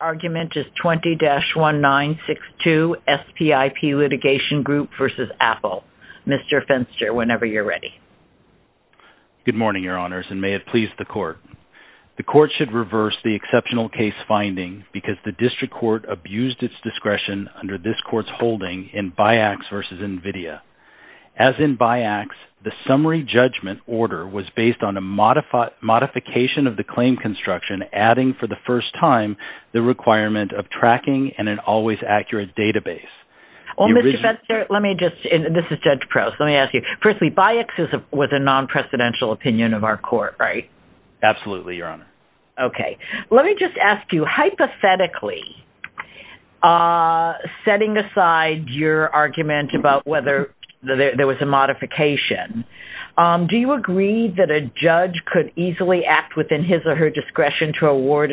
Argument is 20-1962 SPIP Litigation Group v. Apple. Mr. Fenster, whenever you're ready. Good morning, Your Honors, and may it please the Court. The Court should reverse the exceptional case finding because the District Court abused its discretion under this Court's holding in BIACS v. NVIDIA. As in BIACS, the summary judgment order was based on a modification of the claim construction, adding for the first time the requirement of tracking and an always accurate database. Well, Mr. Fenster, let me just, and this is Judge Prowse, let me ask you. Firstly, BIACS was a non-presidential opinion of our Court, right? Absolutely, Your Honor. Okay. Let me just ask you, hypothetically, setting aside your argument about whether there was a modification, do you agree that a judge could easily act within his or her discretion to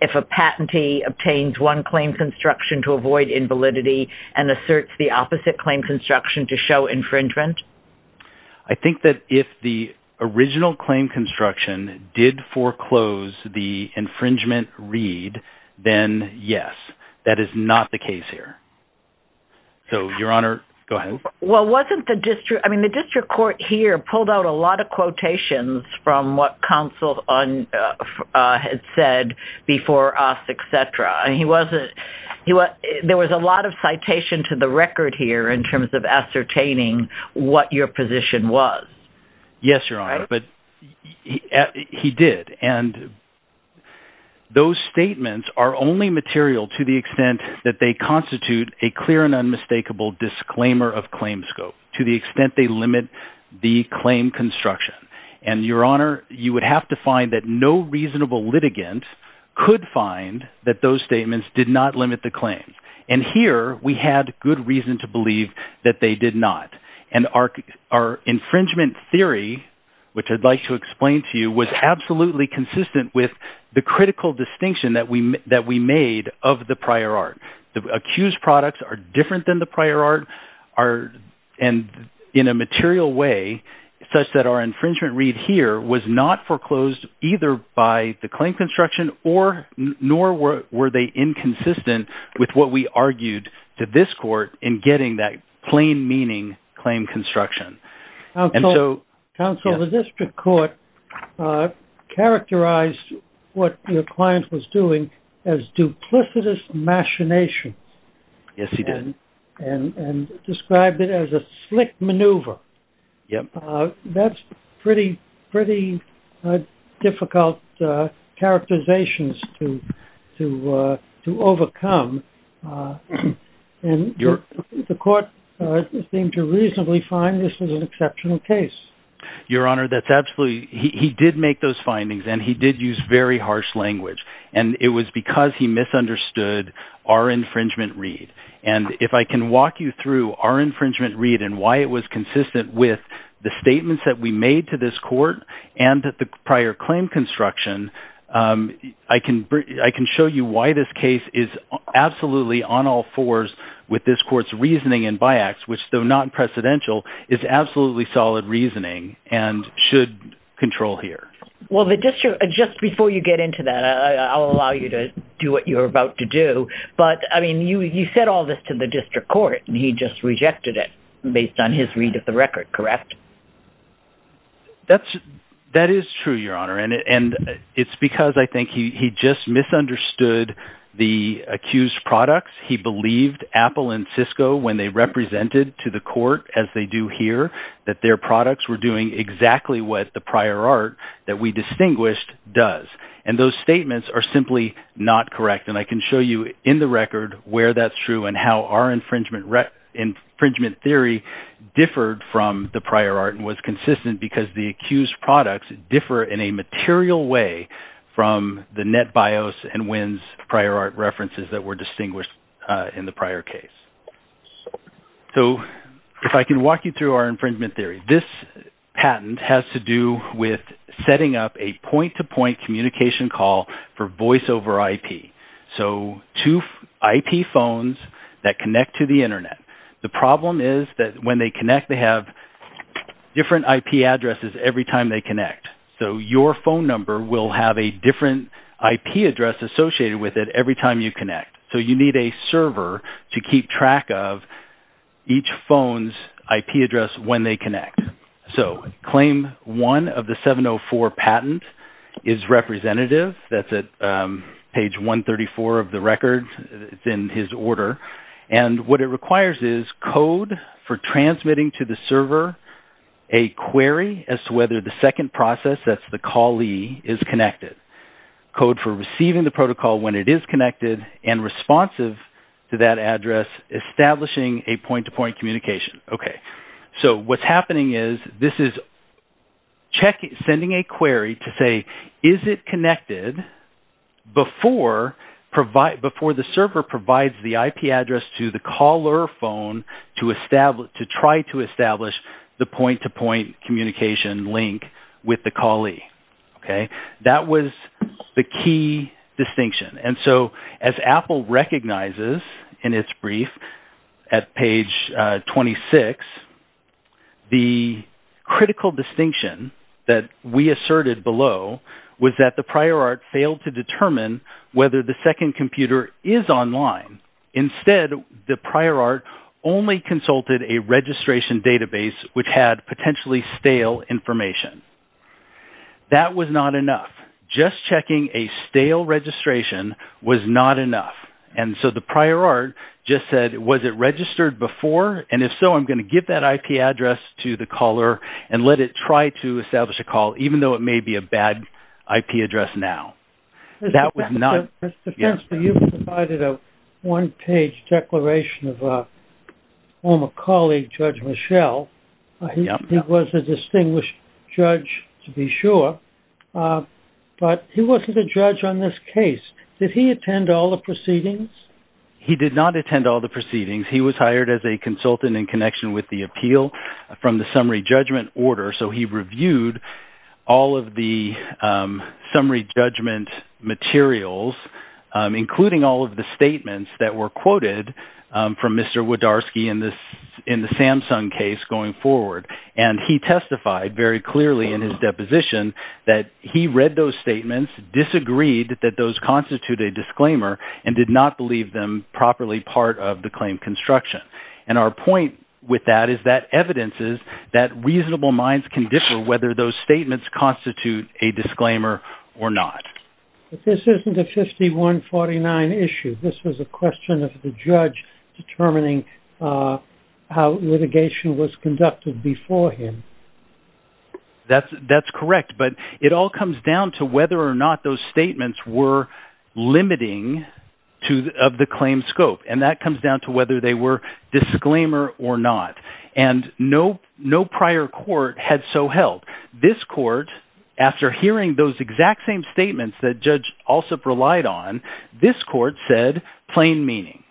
if a patentee obtains one claim construction to avoid invalidity and asserts the opposite claim construction to show infringement? I think that if the original claim construction did foreclose the infringement read, then yes, that is not the case here. So, Your Honor, go ahead. Well, wasn't the District, I mean, the District Court here pulled out a lot of quotations from what counsel had said before us, et cetera. And he wasn't, there was a lot of citation to the record here in terms of ascertaining what your position was. Yes, Your Honor, but he did. And those statements are only material to the extent that they constitute a clear and unmistakable disclaimer of claim scope, to the extent they limit the claim construction. And Your Honor, you would have to find that no reasonable litigant could find that those statements did not limit the claims. And here we had good reason to believe that they did not. And our infringement theory, which I'd like to explain to you, was absolutely consistent with the critical distinction that we made of the prior art. The accused products are different than the prior art and in a material way, such that our infringement read here was not foreclosed either by the claim construction nor were they inconsistent with what we argued to this court in getting that plain meaning claim construction. Counsel, the District Court characterized what your client was doing as duplicitous machinations. Yes, he did. And described it as a slick maneuver. That's pretty difficult characterizations to overcome. And the court seemed to reasonably find this was an exceptional case. Your Honor, that's absolutely... He did make those findings and he did use very harsh language. And it was because he misunderstood our infringement read. And if I can walk you through our infringement read and why it was consistent with the statements that we made to this court and that the prior claim construction, I can show you why this case is absolutely on all fours with this court's reasoning and by acts, which though non-precedential is absolutely solid reasoning and should control here. Well, just before you get into that, I'll allow you to do what you're about to do. But I mean, you said all this to the District Court and he just rejected it based on his read of the record, correct? That is true, Your Honor. And it's because I think he just misunderstood the accused products. He believed Apple and Cisco when they represented to the court as they do here, that their products were doing exactly what the prior art that we distinguished does. And those statements are simply not correct. And I can show you in the record where that's true and how our infringement theory differed from the prior art and was consistent because the accused products differ in a material way from the NetBIOS and WINS prior art references that were distinguished in the prior case. So if I can walk you through our infringement theory, this patent has to do with setting up a point-to-point communication call for voiceover IP. So two IP phones that connect to the internet. The problem is that when they connect, they have different IP addresses every time they connect. So your phone number will have a different IP address associated with it every time you connect. So you need a server to keep track of each phone's IP address when they connect. So claim one of the 704 patent is representative. That's at page 134 of the record. It's in his order. And what it requires is code for transmitting to the server a query as to whether the second process, that's the callee, is connected. Code for receiving the protocol when it is connected and responsive to that address establishing a point-to-point communication. Okay. So what's happening is this is sending a query to say, is it connected before the server provides the IP address to the caller phone to try to establish the point-to-point communication link with the callee? Okay. That was the key distinction. And so as Apple recognizes in its brief at page 26, the critical distinction that we asserted below was that the prior art failed to determine whether the second computer is online. Instead, the prior art only consulted a registration database, which had potentially stale information. That was not enough. Just checking a stale registration was not enough. And so the prior art just said, was it registered before? And if so, I'm going to give that IP address to the caller and let it try to establish a call, even though it may be a bad IP address now. That was not... Declaration of a former colleague, Judge Michelle. He was a distinguished judge to be sure, but he wasn't a judge on this case. Did he attend all the proceedings? He did not attend all the proceedings. He was hired as a consultant in connection with the appeal from the summary judgment order. So he reviewed all of the summary judgment materials, including all of the statements that were quoted from Mr. Wodarski in the Samsung case going forward. And he testified very clearly in his deposition that he read those statements, disagreed that those constitute a disclaimer and did not believe them properly part of the claim construction. And our point with that is that evidence is that reasonable minds can differ whether those statements constitute a disclaimer or not. But this isn't a 5149 issue. This was a question of the judge determining how litigation was conducted before him. That's correct. But it all comes down to whether or not those statements were limiting of the claim scope. And that comes down to whether they were disclaimer or not. And no prior court had so held. This court, after hearing those exact same statements that Judge Alsup relied on, this court said plain meaning.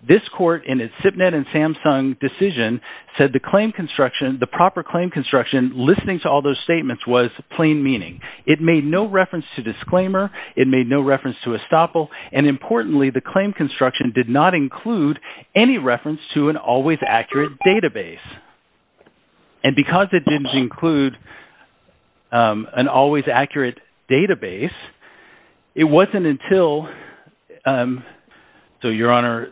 This court in its SIPnet and Samsung decision said the claim construction, the proper claim construction, listening to all those statements was plain meaning. It made no reference to disclaimer. It made no reference to estoppel. And importantly, the claim construction did not include any reference to an always accurate database. And because it didn't include an always accurate database, it wasn't until, so Your Honor,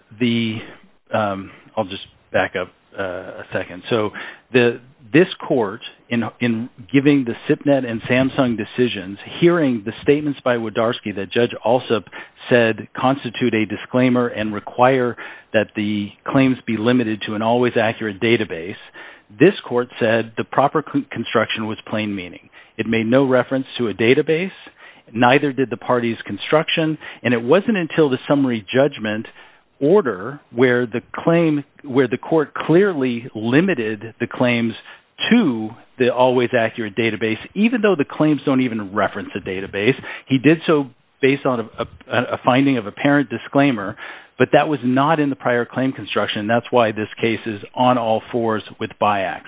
I'll just back up a second. So this court in giving the SIPnet and Samsung decisions, hearing the statements by Wodarski that Judge Alsup said constitute a disclaimer and require that the claims be limited to an always accurate database, this court said the proper construction was plain meaning. It made no reference to a database. Neither did the party's construction. And it wasn't until the summary judgment order where the court clearly limited the claims to the always accurate database, even though the claims don't even reference a database. He did so based on a finding of apparent disclaimer, but that was not in the prior claim construction. And that's why this case is on all fours with BIACS.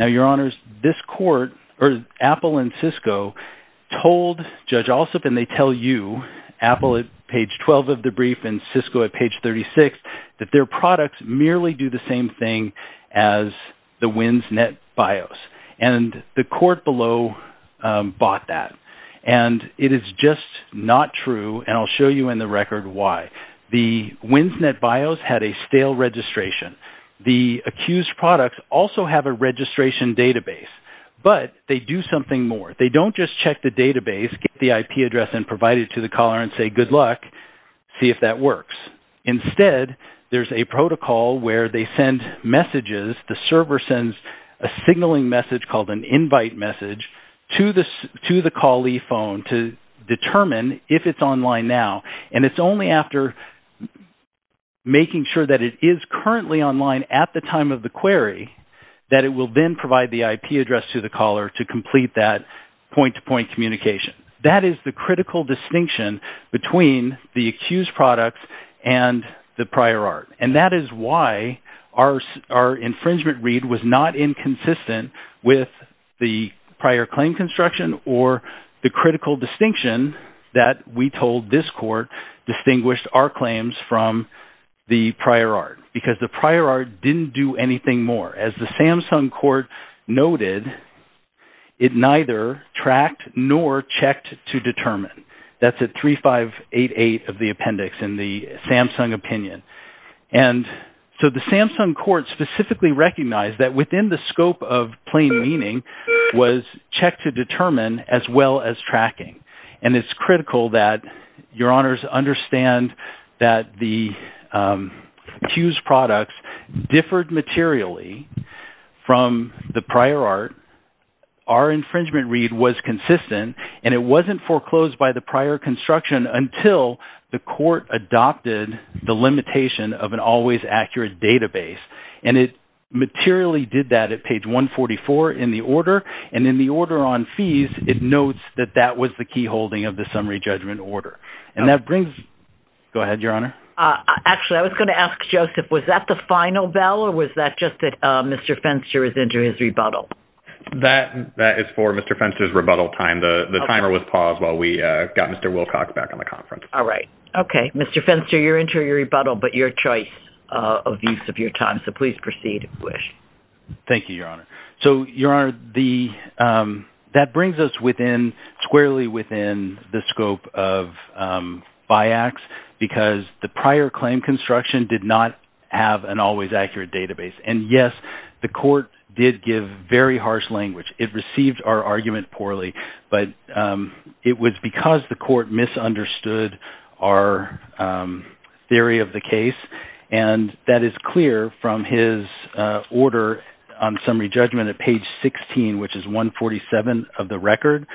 Now, Your Honors, this court or Apple and Cisco told Judge Alsup, and they tell you, Apple at page 12 of the brief and Cisco at page 36, that their products merely do the same thing as the Winsnet BIOS. And the court below bought that. And it is just not true. And I'll show you in the record why. The Winsnet BIOS had a stale registration. The accused products also have a registration database, but they do something more. They don't just check the database, get the IP address and provide it to the caller and say, good luck, see if that works. Instead, there's a protocol where they send messages. The server sends a signaling message called an invite message to the callee phone to determine if it's online now. And it's only after making sure that it is currently online at the time of the query, that it will then provide the IP address to the caller to complete that point-to-point communication. That is the critical distinction between the accused products and the prior art. And that is why our infringement read was not inconsistent with the prior claim construction or the critical distinction that we told this court distinguished our claims from the prior art, because the prior art didn't do anything more. As the Samsung court noted, it neither tracked nor checked to determine. That's at 3588 of the appendix in the Samsung opinion. And so the Samsung court specifically recognized that within the scope of plain meaning was checked to determine as well as tracking. And it's critical that your prior art, our infringement read was consistent and it wasn't foreclosed by the prior construction until the court adopted the limitation of an always accurate database. And it materially did that at page 144 in the order. And in the order on fees, it notes that that was the key holding of the summary judgment order. And that brings, go ahead, your honor. Actually, I was going to ask Joseph, was that the final bell or was that just that Mr. Fenster is into his rebuttal? That is for Mr. Fenster's rebuttal time. The timer was paused while we got Mr. Wilcox back on the conference. All right. Okay. Mr. Fenster, you're into your rebuttal, but your choice of use of your time. So please proceed if you wish. Thank you, your honor. So your honor, that brings us within squarely within the scope of BIACS because the prior claim construction did not have an always accurate database. And yes, the court did give very harsh language. It received our argument poorly, but it was because the court misunderstood our theory of the case. And that is clear from his order on summary judgment at page 16, which is 147 of the record,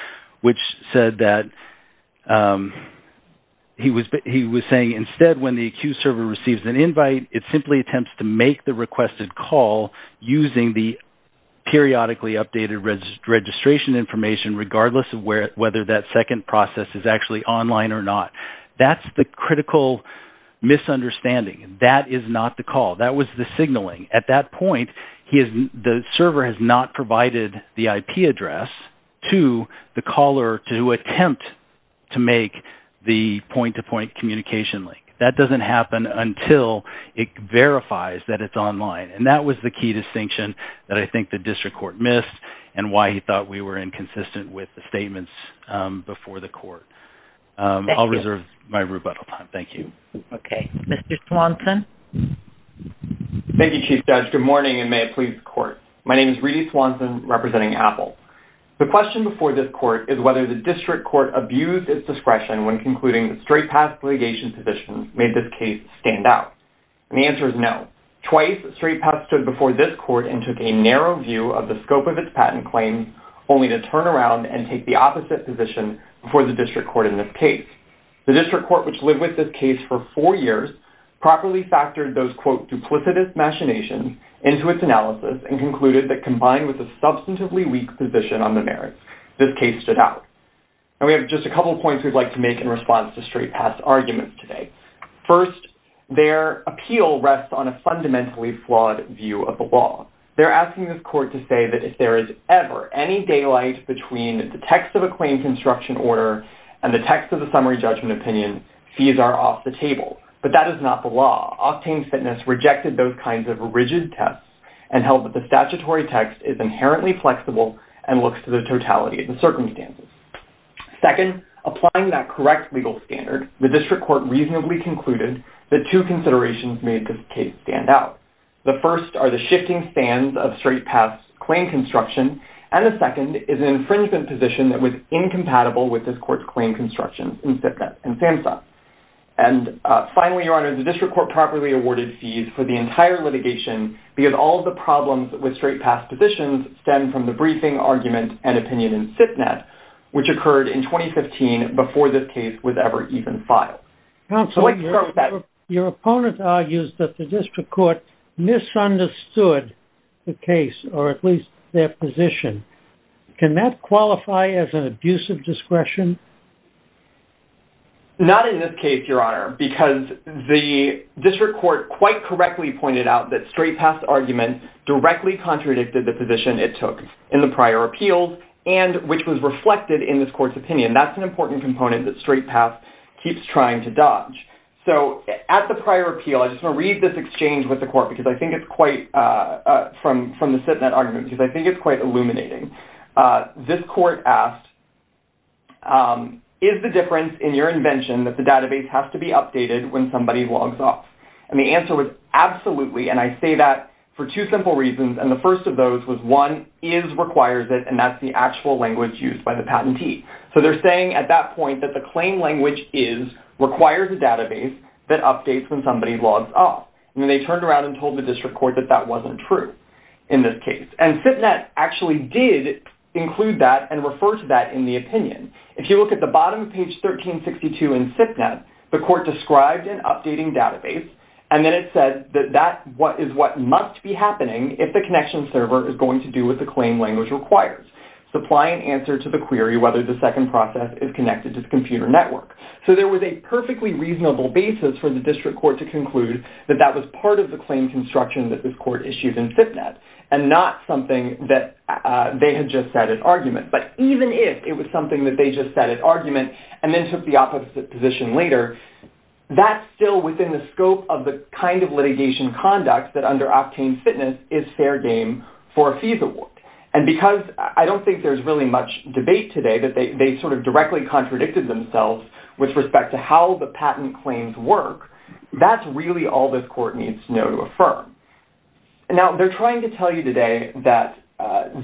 which said that he was saying instead, when the accused server receives an invite, it simply attempts to make the requested call using the periodically updated registration information, regardless of whether that second process is actually online or not. That's the critical misunderstanding. That is not the call. That was the signaling. At that point, the server has not provided the IP address to the caller to attempt to make the point to point communication link. That doesn't happen until it verifies that it's online. And that was the key distinction that I think the district court missed and why he thought we were inconsistent with the statements before the court. I'll reserve my rebuttal time. Thank you. Okay. Mr. Swanson. Thank you, Chief Judge. Good morning and may it please the court. My name is Reedy Swanson, representing Apple. The question before this court is whether the district court abused its discretion when concluding the straight path litigation position made this case stand out. And the answer is no. Twice, straight path stood before this court and took a narrow view of the scope of its patent claims, only to turn around and take the opposite position before the district court in this case. The district court, which lived with this case for four years, properly factored those, quote, duplicitous machinations into its analysis and concluded that combined with a substantively weak position on the merits, this case stood out. And we have just a couple points we'd like to make in response to straight path arguments today. First, their appeal rests on a fundamentally flawed view of the law. They're asking this court to say that if there is ever any daylight between the text of a claim construction order and the text of the summary judgment opinion, fees are off the table. But that is not the law. Octane Fitness rejected those kinds of rigid tests and held that the statutory text is inherently flexible and looks to the totality of the circumstances. Second, applying that correct legal standard, the district court reasonably concluded that two considerations made this case stand out. The shifting stands of straight paths, claim construction, and the second is an infringement position that was incompatible with this court's claim constructions. And finally, your honor, the district court properly awarded fees for the entire litigation because all of the problems with straight path positions stem from the briefing argument and opinion in which occurred in 2015 before this case was ever even filed. So let's start with that. Your opponent argues that the court misunderstood the case or at least their position. Can that qualify as an abuse of discretion? Not in this case, your honor, because the district court quite correctly pointed out that straight paths argument directly contradicted the position it took in the prior appeals and which was reflected in this court's opinion. That's an important component that straight path keeps trying to dodge. So at the prior appeal, I just want to read this exchange with the court because I think it's quite, from the sit net argument, because I think it's quite illuminating. This court asked, is the difference in your invention that the database has to be updated when somebody logs off? And the answer was absolutely. And I say that for two simple reasons. And the first of those was one is requires it and that's the actual language used by the patentee. So they're saying at that point that the claim language is requires a database that updates when somebody logs off. And then they turned around and told the district court that that wasn't true in this case. And sit net actually did include that and refer to that in the opinion. If you look at the bottom of page 1362 in sit net, the court described an updating database and then it said that that is what must be happening if the connection server is going to do what the claim language requires, supply an answer to the query whether the second process is connected to the computer network. So there was a perfectly reasonable basis for the district court to conclude that that was part of the claim construction that this court issued in sit net and not something that they had just said in argument. But even if it was something that they just said in argument and then took the opposite position later, that's still within the scope of the kind of litigation conduct that under Optane Fitness is fair game for a fees award. And because I don't think there's really much debate today that they sort of directly contradicted themselves with respect to how the patent claims work, that's really all this court needs to know to affirm. Now they're trying to tell you today that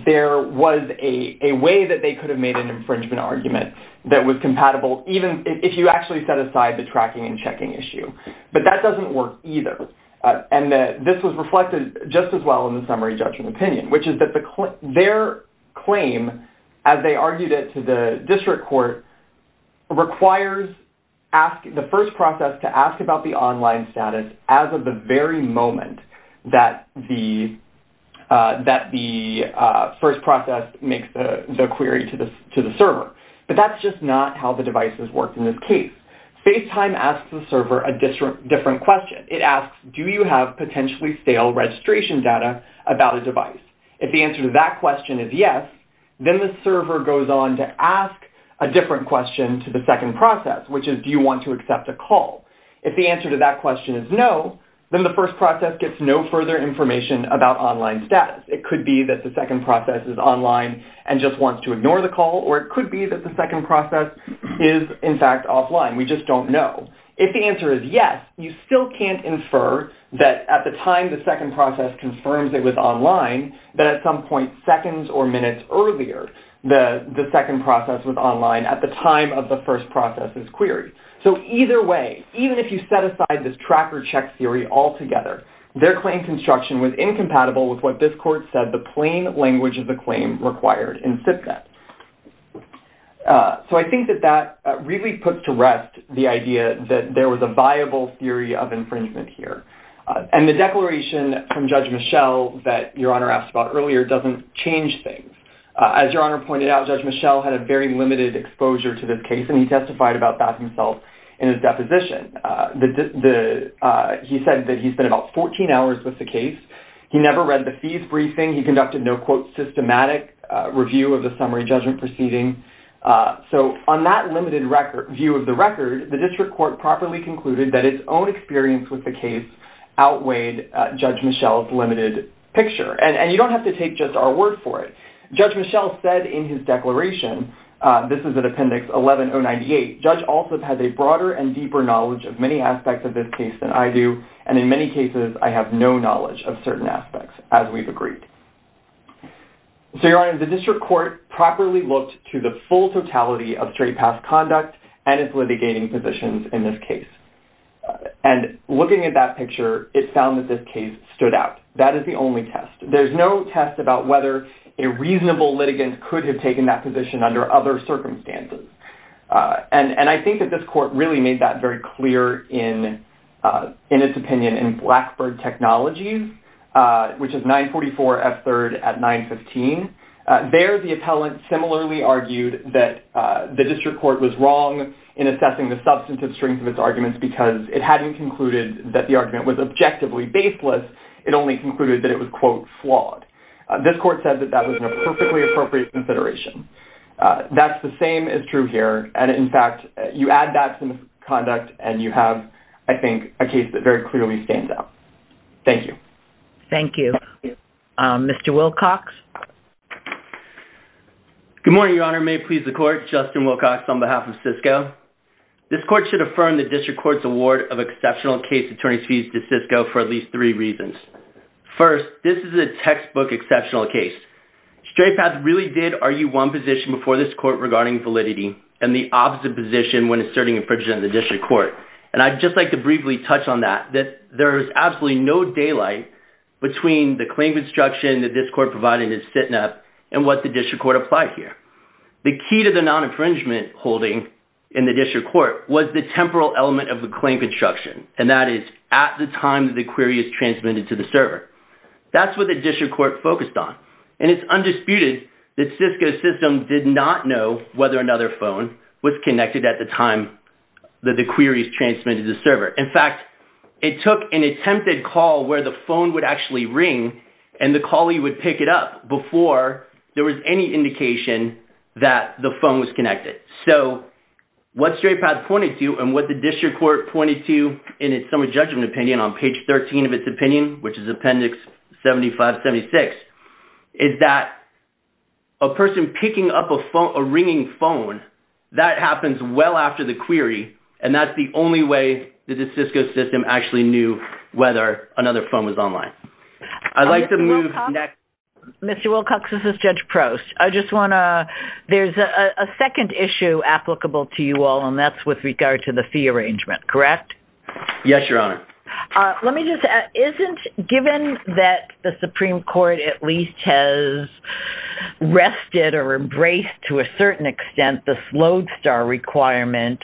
there was a way that they could have made an infringement argument that was compatible even if you actually set aside the tracking and checking issue. But that doesn't work either. And this was reflected just as well in the their claim as they argued it to the district court requires the first process to ask about the online status as of the very moment that the first process makes the query to the server. But that's just not how the devices worked in this case. FaceTime asks the server a different question. It asks, do you have potentially fail registration data about a device? If the answer to that question is yes, then the server goes on to ask a different question to the second process, which is, do you want to accept a call? If the answer to that question is no, then the first process gets no further information about online status. It could be that the second process is online and just wants to ignore the call, or it could be that the second process is in fact offline. We just don't know. If the answer is yes, you still can't infer that at the time the second process confirms it was online, that at some point seconds or minutes earlier, the second process was online at the time of the first process's query. So either way, even if you set aside this tracker check theory altogether, their claim construction was incompatible with what this court said the plain language of the claim required in SIPCAT. So I think that that really puts to rest the idea that there was a viable theory of infringement here. And the declaration from Judge Michel that Your Honor asked about earlier doesn't change things. As Your Honor pointed out, Judge Michel had a very limited exposure to this case, and he testified about that himself in his deposition. He said that he spent about 14 hours with the case. He never read the fees briefing. He conducted no, quote, systematic review of the summary judgment proceeding. So on that limited view of the record, the district court properly concluded that its own experience with the case outweighed Judge Michel's limited picture. And you don't have to take just our word for it. Judge Michel said in his declaration, this is at Appendix 11-098, Judge also has a broader and deeper knowledge of many aspects of this case than I do, and in many cases I have no knowledge of certain aspects, as we've agreed. So Your Honor, the district court properly looked to the full totality of straight path conduct and its litigating positions in this case. And looking at that picture, it found that this case stood out. That is the only test. There's no test about whether a reasonable litigant could have taken that position under other circumstances. And I think that this court really made that very clear in its opinion in Blackbird Technologies, which is 944F3 at 915. There, the appellant similarly argued that the district court was wrong in assessing the substantive strength of its arguments because it hadn't concluded that the argument was objectively baseless. It only concluded that it was, quote, flawed. This court said that that was a perfectly appropriate consideration. That's the same as true here. And in fact, you add that to the conduct and you have, I think, a case that very clearly stands out. Thank you. Thank you. Mr. Wilcox. Good morning, Your Honor. May it please the court, Justin Wilcox on behalf of Cisco. This court should affirm the district court's award of exceptional case attorneys fees to Cisco for at least three reasons. First, this is a textbook exceptional case. Straight paths really did argue one position before this court regarding validity and the opposite position when asserting infringement in the district court. And I'd just like to briefly touch on that, that there's absolutely no daylight between the claim construction that this court provided in SITNEP and what the district court applied here. The key to the non-infringement holding in the district court was the temporal element of the claim construction. And that is at the time that the query is transmitted to the server. That's what the district court focused on. And it's that the query is transmitted to the server. In fact, it took an attempted call where the phone would actually ring and the callee would pick it up before there was any indication that the phone was connected. So what straight path pointed to and what the district court pointed to in its summary judgment opinion on page 13 of its opinion, which is appendix 75-76, is that a person picking up a phone, a ringing phone, that happens well after the query, and that's the only way that the Cisco system actually knew whether another phone was online. I'd like to move next. Mr. Wilcox, this is Judge Prost. I just want to, there's a second issue applicable to you all, and that's with regard to the fee arrangement, correct? Yes, Your Honor. Let me just add, given that the Supreme Court at least has rested or embraced to a certain extent the slowed star requirement,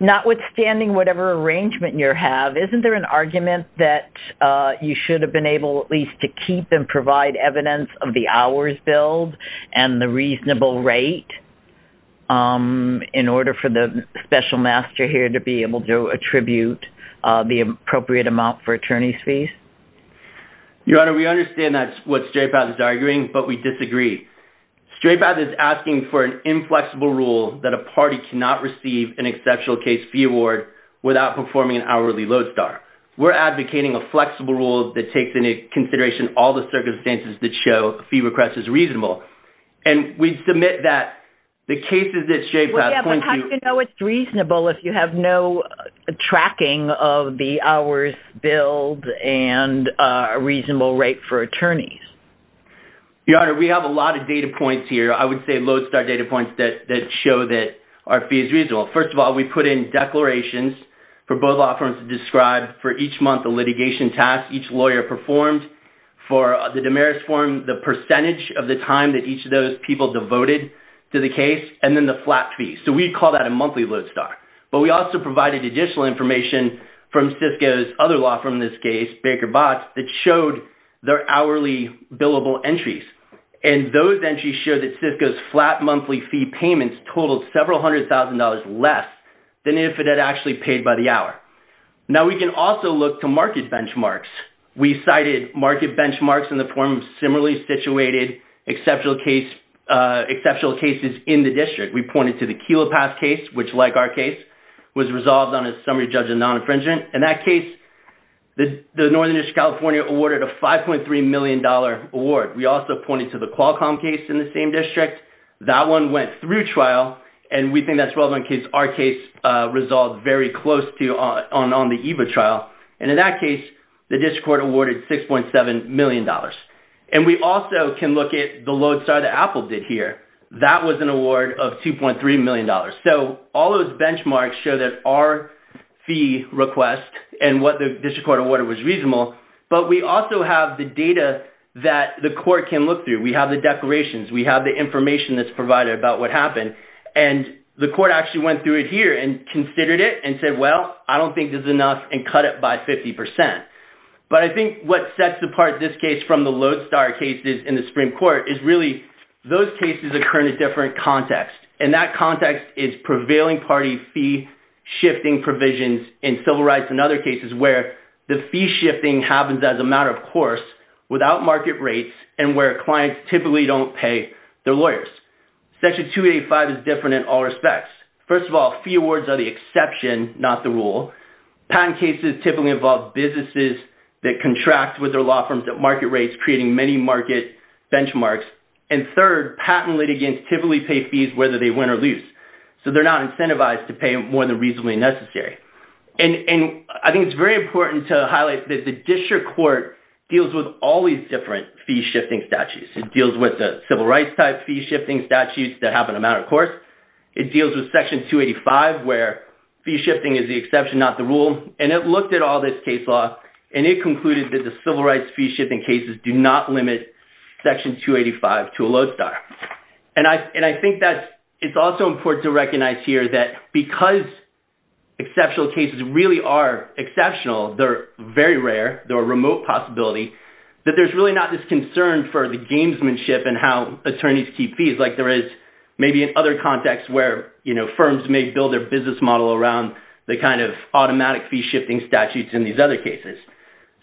notwithstanding whatever arrangement you have, isn't there an argument that you should have been able at least to keep and provide evidence of the hours billed and the reasonable rate in order for the special master here to be able to attribute the appropriate amount for attorney's fees? Your Honor, we understand that's what Straypath is arguing, but we disagree. Straypath is asking for an inflexible rule that a party cannot receive an exceptional case fee award without performing an hourly load star. We're advocating a flexible rule that takes into consideration all the circumstances that show fee request is reasonable, and we submit that the cases that Straypath points to... Yeah, but how do you know it's of the hours billed and a reasonable rate for attorneys? Your Honor, we have a lot of data points here. I would say load star data points that show that our fee is reasonable. First of all, we put in declarations for both law firms to describe for each month the litigation task each lawyer performed. For the Damaris form, the percentage of the time that each of those people devoted to the case, and then the flat fee. So we call that a monthly load star, but we also provided additional information from Cisco's other law firm in this case, Baker Botts, that showed their hourly billable entries. And those entries showed that Cisco's flat monthly fee payments totaled several hundred thousand dollars less than if it had actually paid by the hour. Now, we can also look to market benchmarks. We cited market benchmarks in the form of similarly situated exceptional cases in the district. We pointed to the Kelo Pass case, which like our case, resolved on a summary judge of non-infringement. In that case, the Northern District of California awarded a 5.3 million dollar award. We also pointed to the Qualcomm case in the same district. That one went through trial, and we think that's relevant because our case resolved very close to on the EVA trial. And in that case, the district court awarded 6.7 million dollars. And we also can look at the load star that Apple did here. That was an award of 2.3 million dollars. So, all those benchmarks show that our fee request and what the district court awarded was reasonable, but we also have the data that the court can look through. We have the declarations. We have the information that's provided about what happened. And the court actually went through it here and considered it and said, well, I don't think this is enough, and cut it by 50 percent. But I think what sets apart this case from the load star cases in the is prevailing party fee shifting provisions in civil rights and other cases where the fee shifting happens as a matter of course without market rates and where clients typically don't pay their lawyers. Section 285 is different in all respects. First of all, fee awards are the exception, not the rule. Patent cases typically involve businesses that contract with their law firms at market rates, creating many market benchmarks. And third, patent litigants typically pay fees whether they win or lose. So, they're not incentivized to pay more than reasonably necessary. And I think it's very important to highlight that the district court deals with all these different fee shifting statutes. It deals with the civil rights type fee shifting statutes that have an amount of course. It deals with Section 285 where fee shifting is the exception, not the rule. And it looked at all this case law, and it concluded that the civil rights fee shifting cases do not limit Section 285 to a load star. And I think that it's also important to recognize here that because exceptional cases really are exceptional, they're very rare, they're a remote possibility, that there's really not this concern for the gamesmanship and how attorneys keep fees like there is maybe in other contexts where firms may build their business model around the kind of automatic fee shifting statutes in these other cases.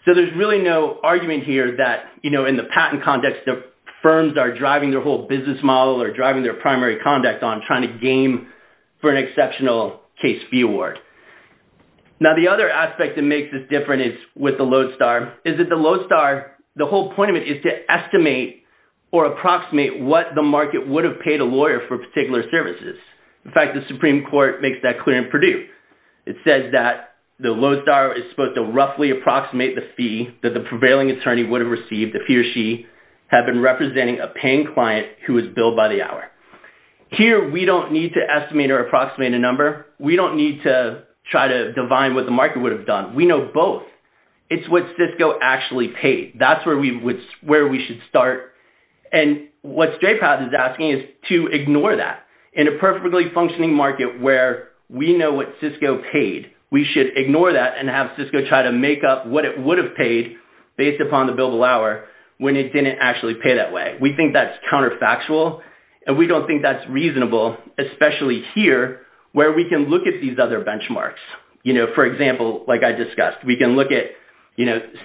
So, there's really no argument here that in the patent context, the firms are driving their whole business model or driving their primary conduct on trying to game for an exceptional case fee award. Now, the other aspect that makes this different is with the load star is that the load star, the whole point of it is to estimate or approximate what the market would have paid a lawyer for particular services. In fact, the Supreme Court makes that clear in Purdue. It says that the load star is supposed to roughly approximate the fee that the prevailing attorney would have received if he or she had been representing a paying client who was billed by the hour. Here, we don't need to estimate or approximate a number. We don't need to try to divine what the market would have done. We know both. It's what Cisco actually paid. That's where we should start. And what Stray Path is asking is to ignore that. In a perfectly functioning market where we know what Cisco paid, we should ignore that and have Cisco try to make up what it would have paid based upon the billable hour when it didn't actually pay that way. We think that's counterfactual and we don't think that's reasonable, especially here where we can look at these other benchmarks. For example, like I discussed, we can look at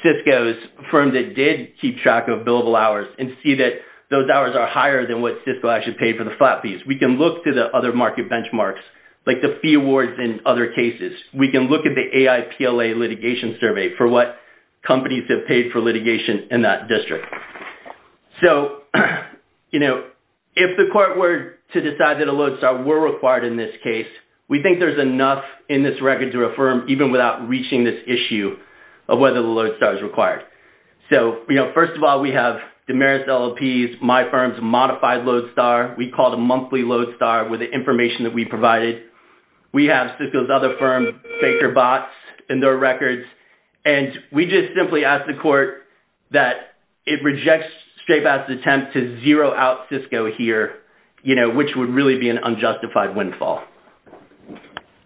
Cisco's firm that did keep track of billable hours and see that those hours are higher than what Cisco actually paid for the flat fees. We can look to the other market benchmarks, like the fee awards in other cases. We can look at the AIPLA litigation survey for what companies have paid for litigation in that district. If the court were to decide that a load star were required in this case, we think there's enough in this record to affirm even without reaching this issue of whether the load star is required. So, first of all, we have Damaris LLP's, my firm's modified load star. We call it a monthly load star with the information that we provided. We have Cisco's other firm, Faker Bots, and their records. And we just simply ask the court that it rejects Stray Path's attempt to zero out Cisco here, which would really be an unjustified windfall.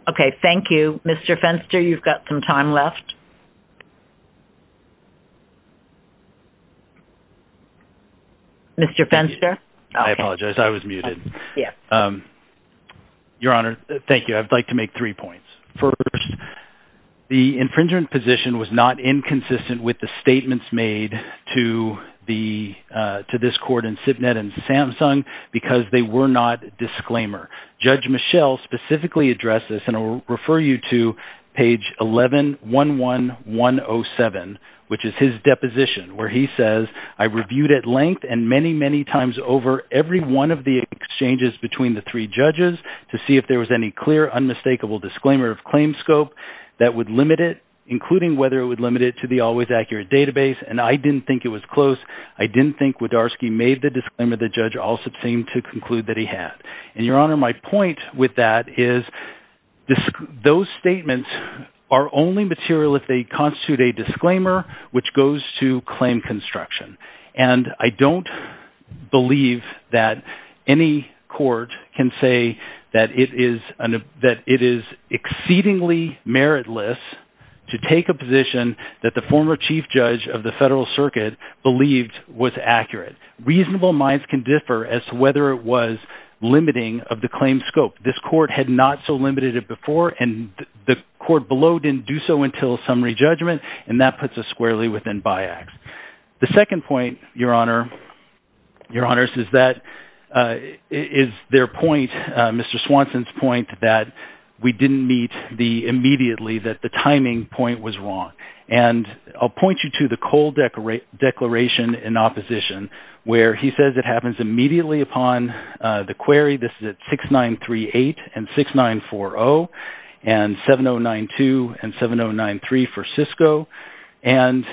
Okay. Thank you. Mr. Fenster, you've got some time left. Mr. Fenster? I apologize. I was muted. Yes. Your Honor, thank you. I'd like to make three points. First, the infringement position was not inconsistent with the statements made to this court and SIPnet and Samsung because they were not disclaimer. Judge Michel specifically addressed refer you to page 1111107, which is his deposition where he says, I reviewed at length and many, many times over every one of the exchanges between the three judges to see if there was any clear, unmistakable disclaimer of claim scope that would limit it, including whether it would limit it to the always accurate database. And I didn't think it was close. I didn't think Wodarski made the disclaimer the judge also seemed to conclude that he had. And Your Honor, my point with that is those statements are only material if they constitute a disclaimer, which goes to claim construction. And I don't believe that any court can say that it is exceedingly meritless to take a position that the former whether it was limiting of the claim scope, this court had not so limited it before and the court below didn't do so until summary judgment. And that puts us squarely within BIACS. The second point, Your Honor, Your Honors, is that is their point, Mr. Swanson's point that we didn't meet the immediately that the timing point was wrong. And I'll point you to the Cole Declaration in Opposition, where he says it happens immediately upon the query. This is at 6938 and 6940 and 7092 and 7093 for Cisco. And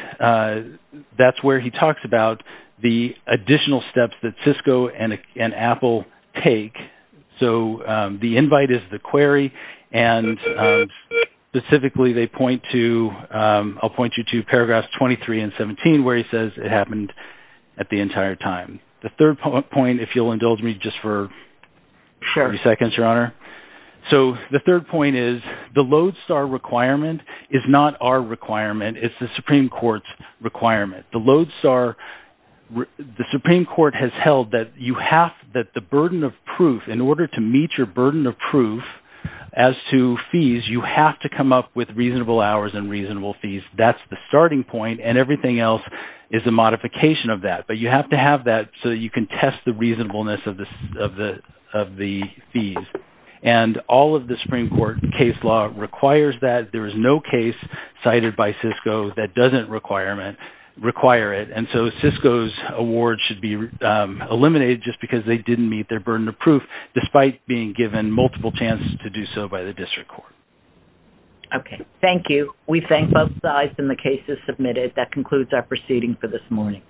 that's where he talks about the additional steps that Cisco and Apple take. So the invite is the query. And specifically, they point to, I'll point you to paragraphs 23 and 17, where he says it happened at the entire time. The third point, if you'll indulge me just for 30 seconds, Your Honor. So the third point is the Lodestar requirement is not our requirement. It's the Supreme Court's requirement. The Lodestar, the Supreme Court has held that you have that the burden of proof in order to meet your burden of fees. That's the starting point. And everything else is a modification of that. But you have to have that so you can test the reasonableness of the fees. And all of the Supreme Court case law requires that. There is no case cited by Cisco that doesn't require it. And so Cisco's award should be eliminated just because they didn't meet their burden of proof, despite being given multiple chances to do so by the district court. Okay. Thank you. We thank both sides and the cases submitted. That concludes our proceeding for this morning.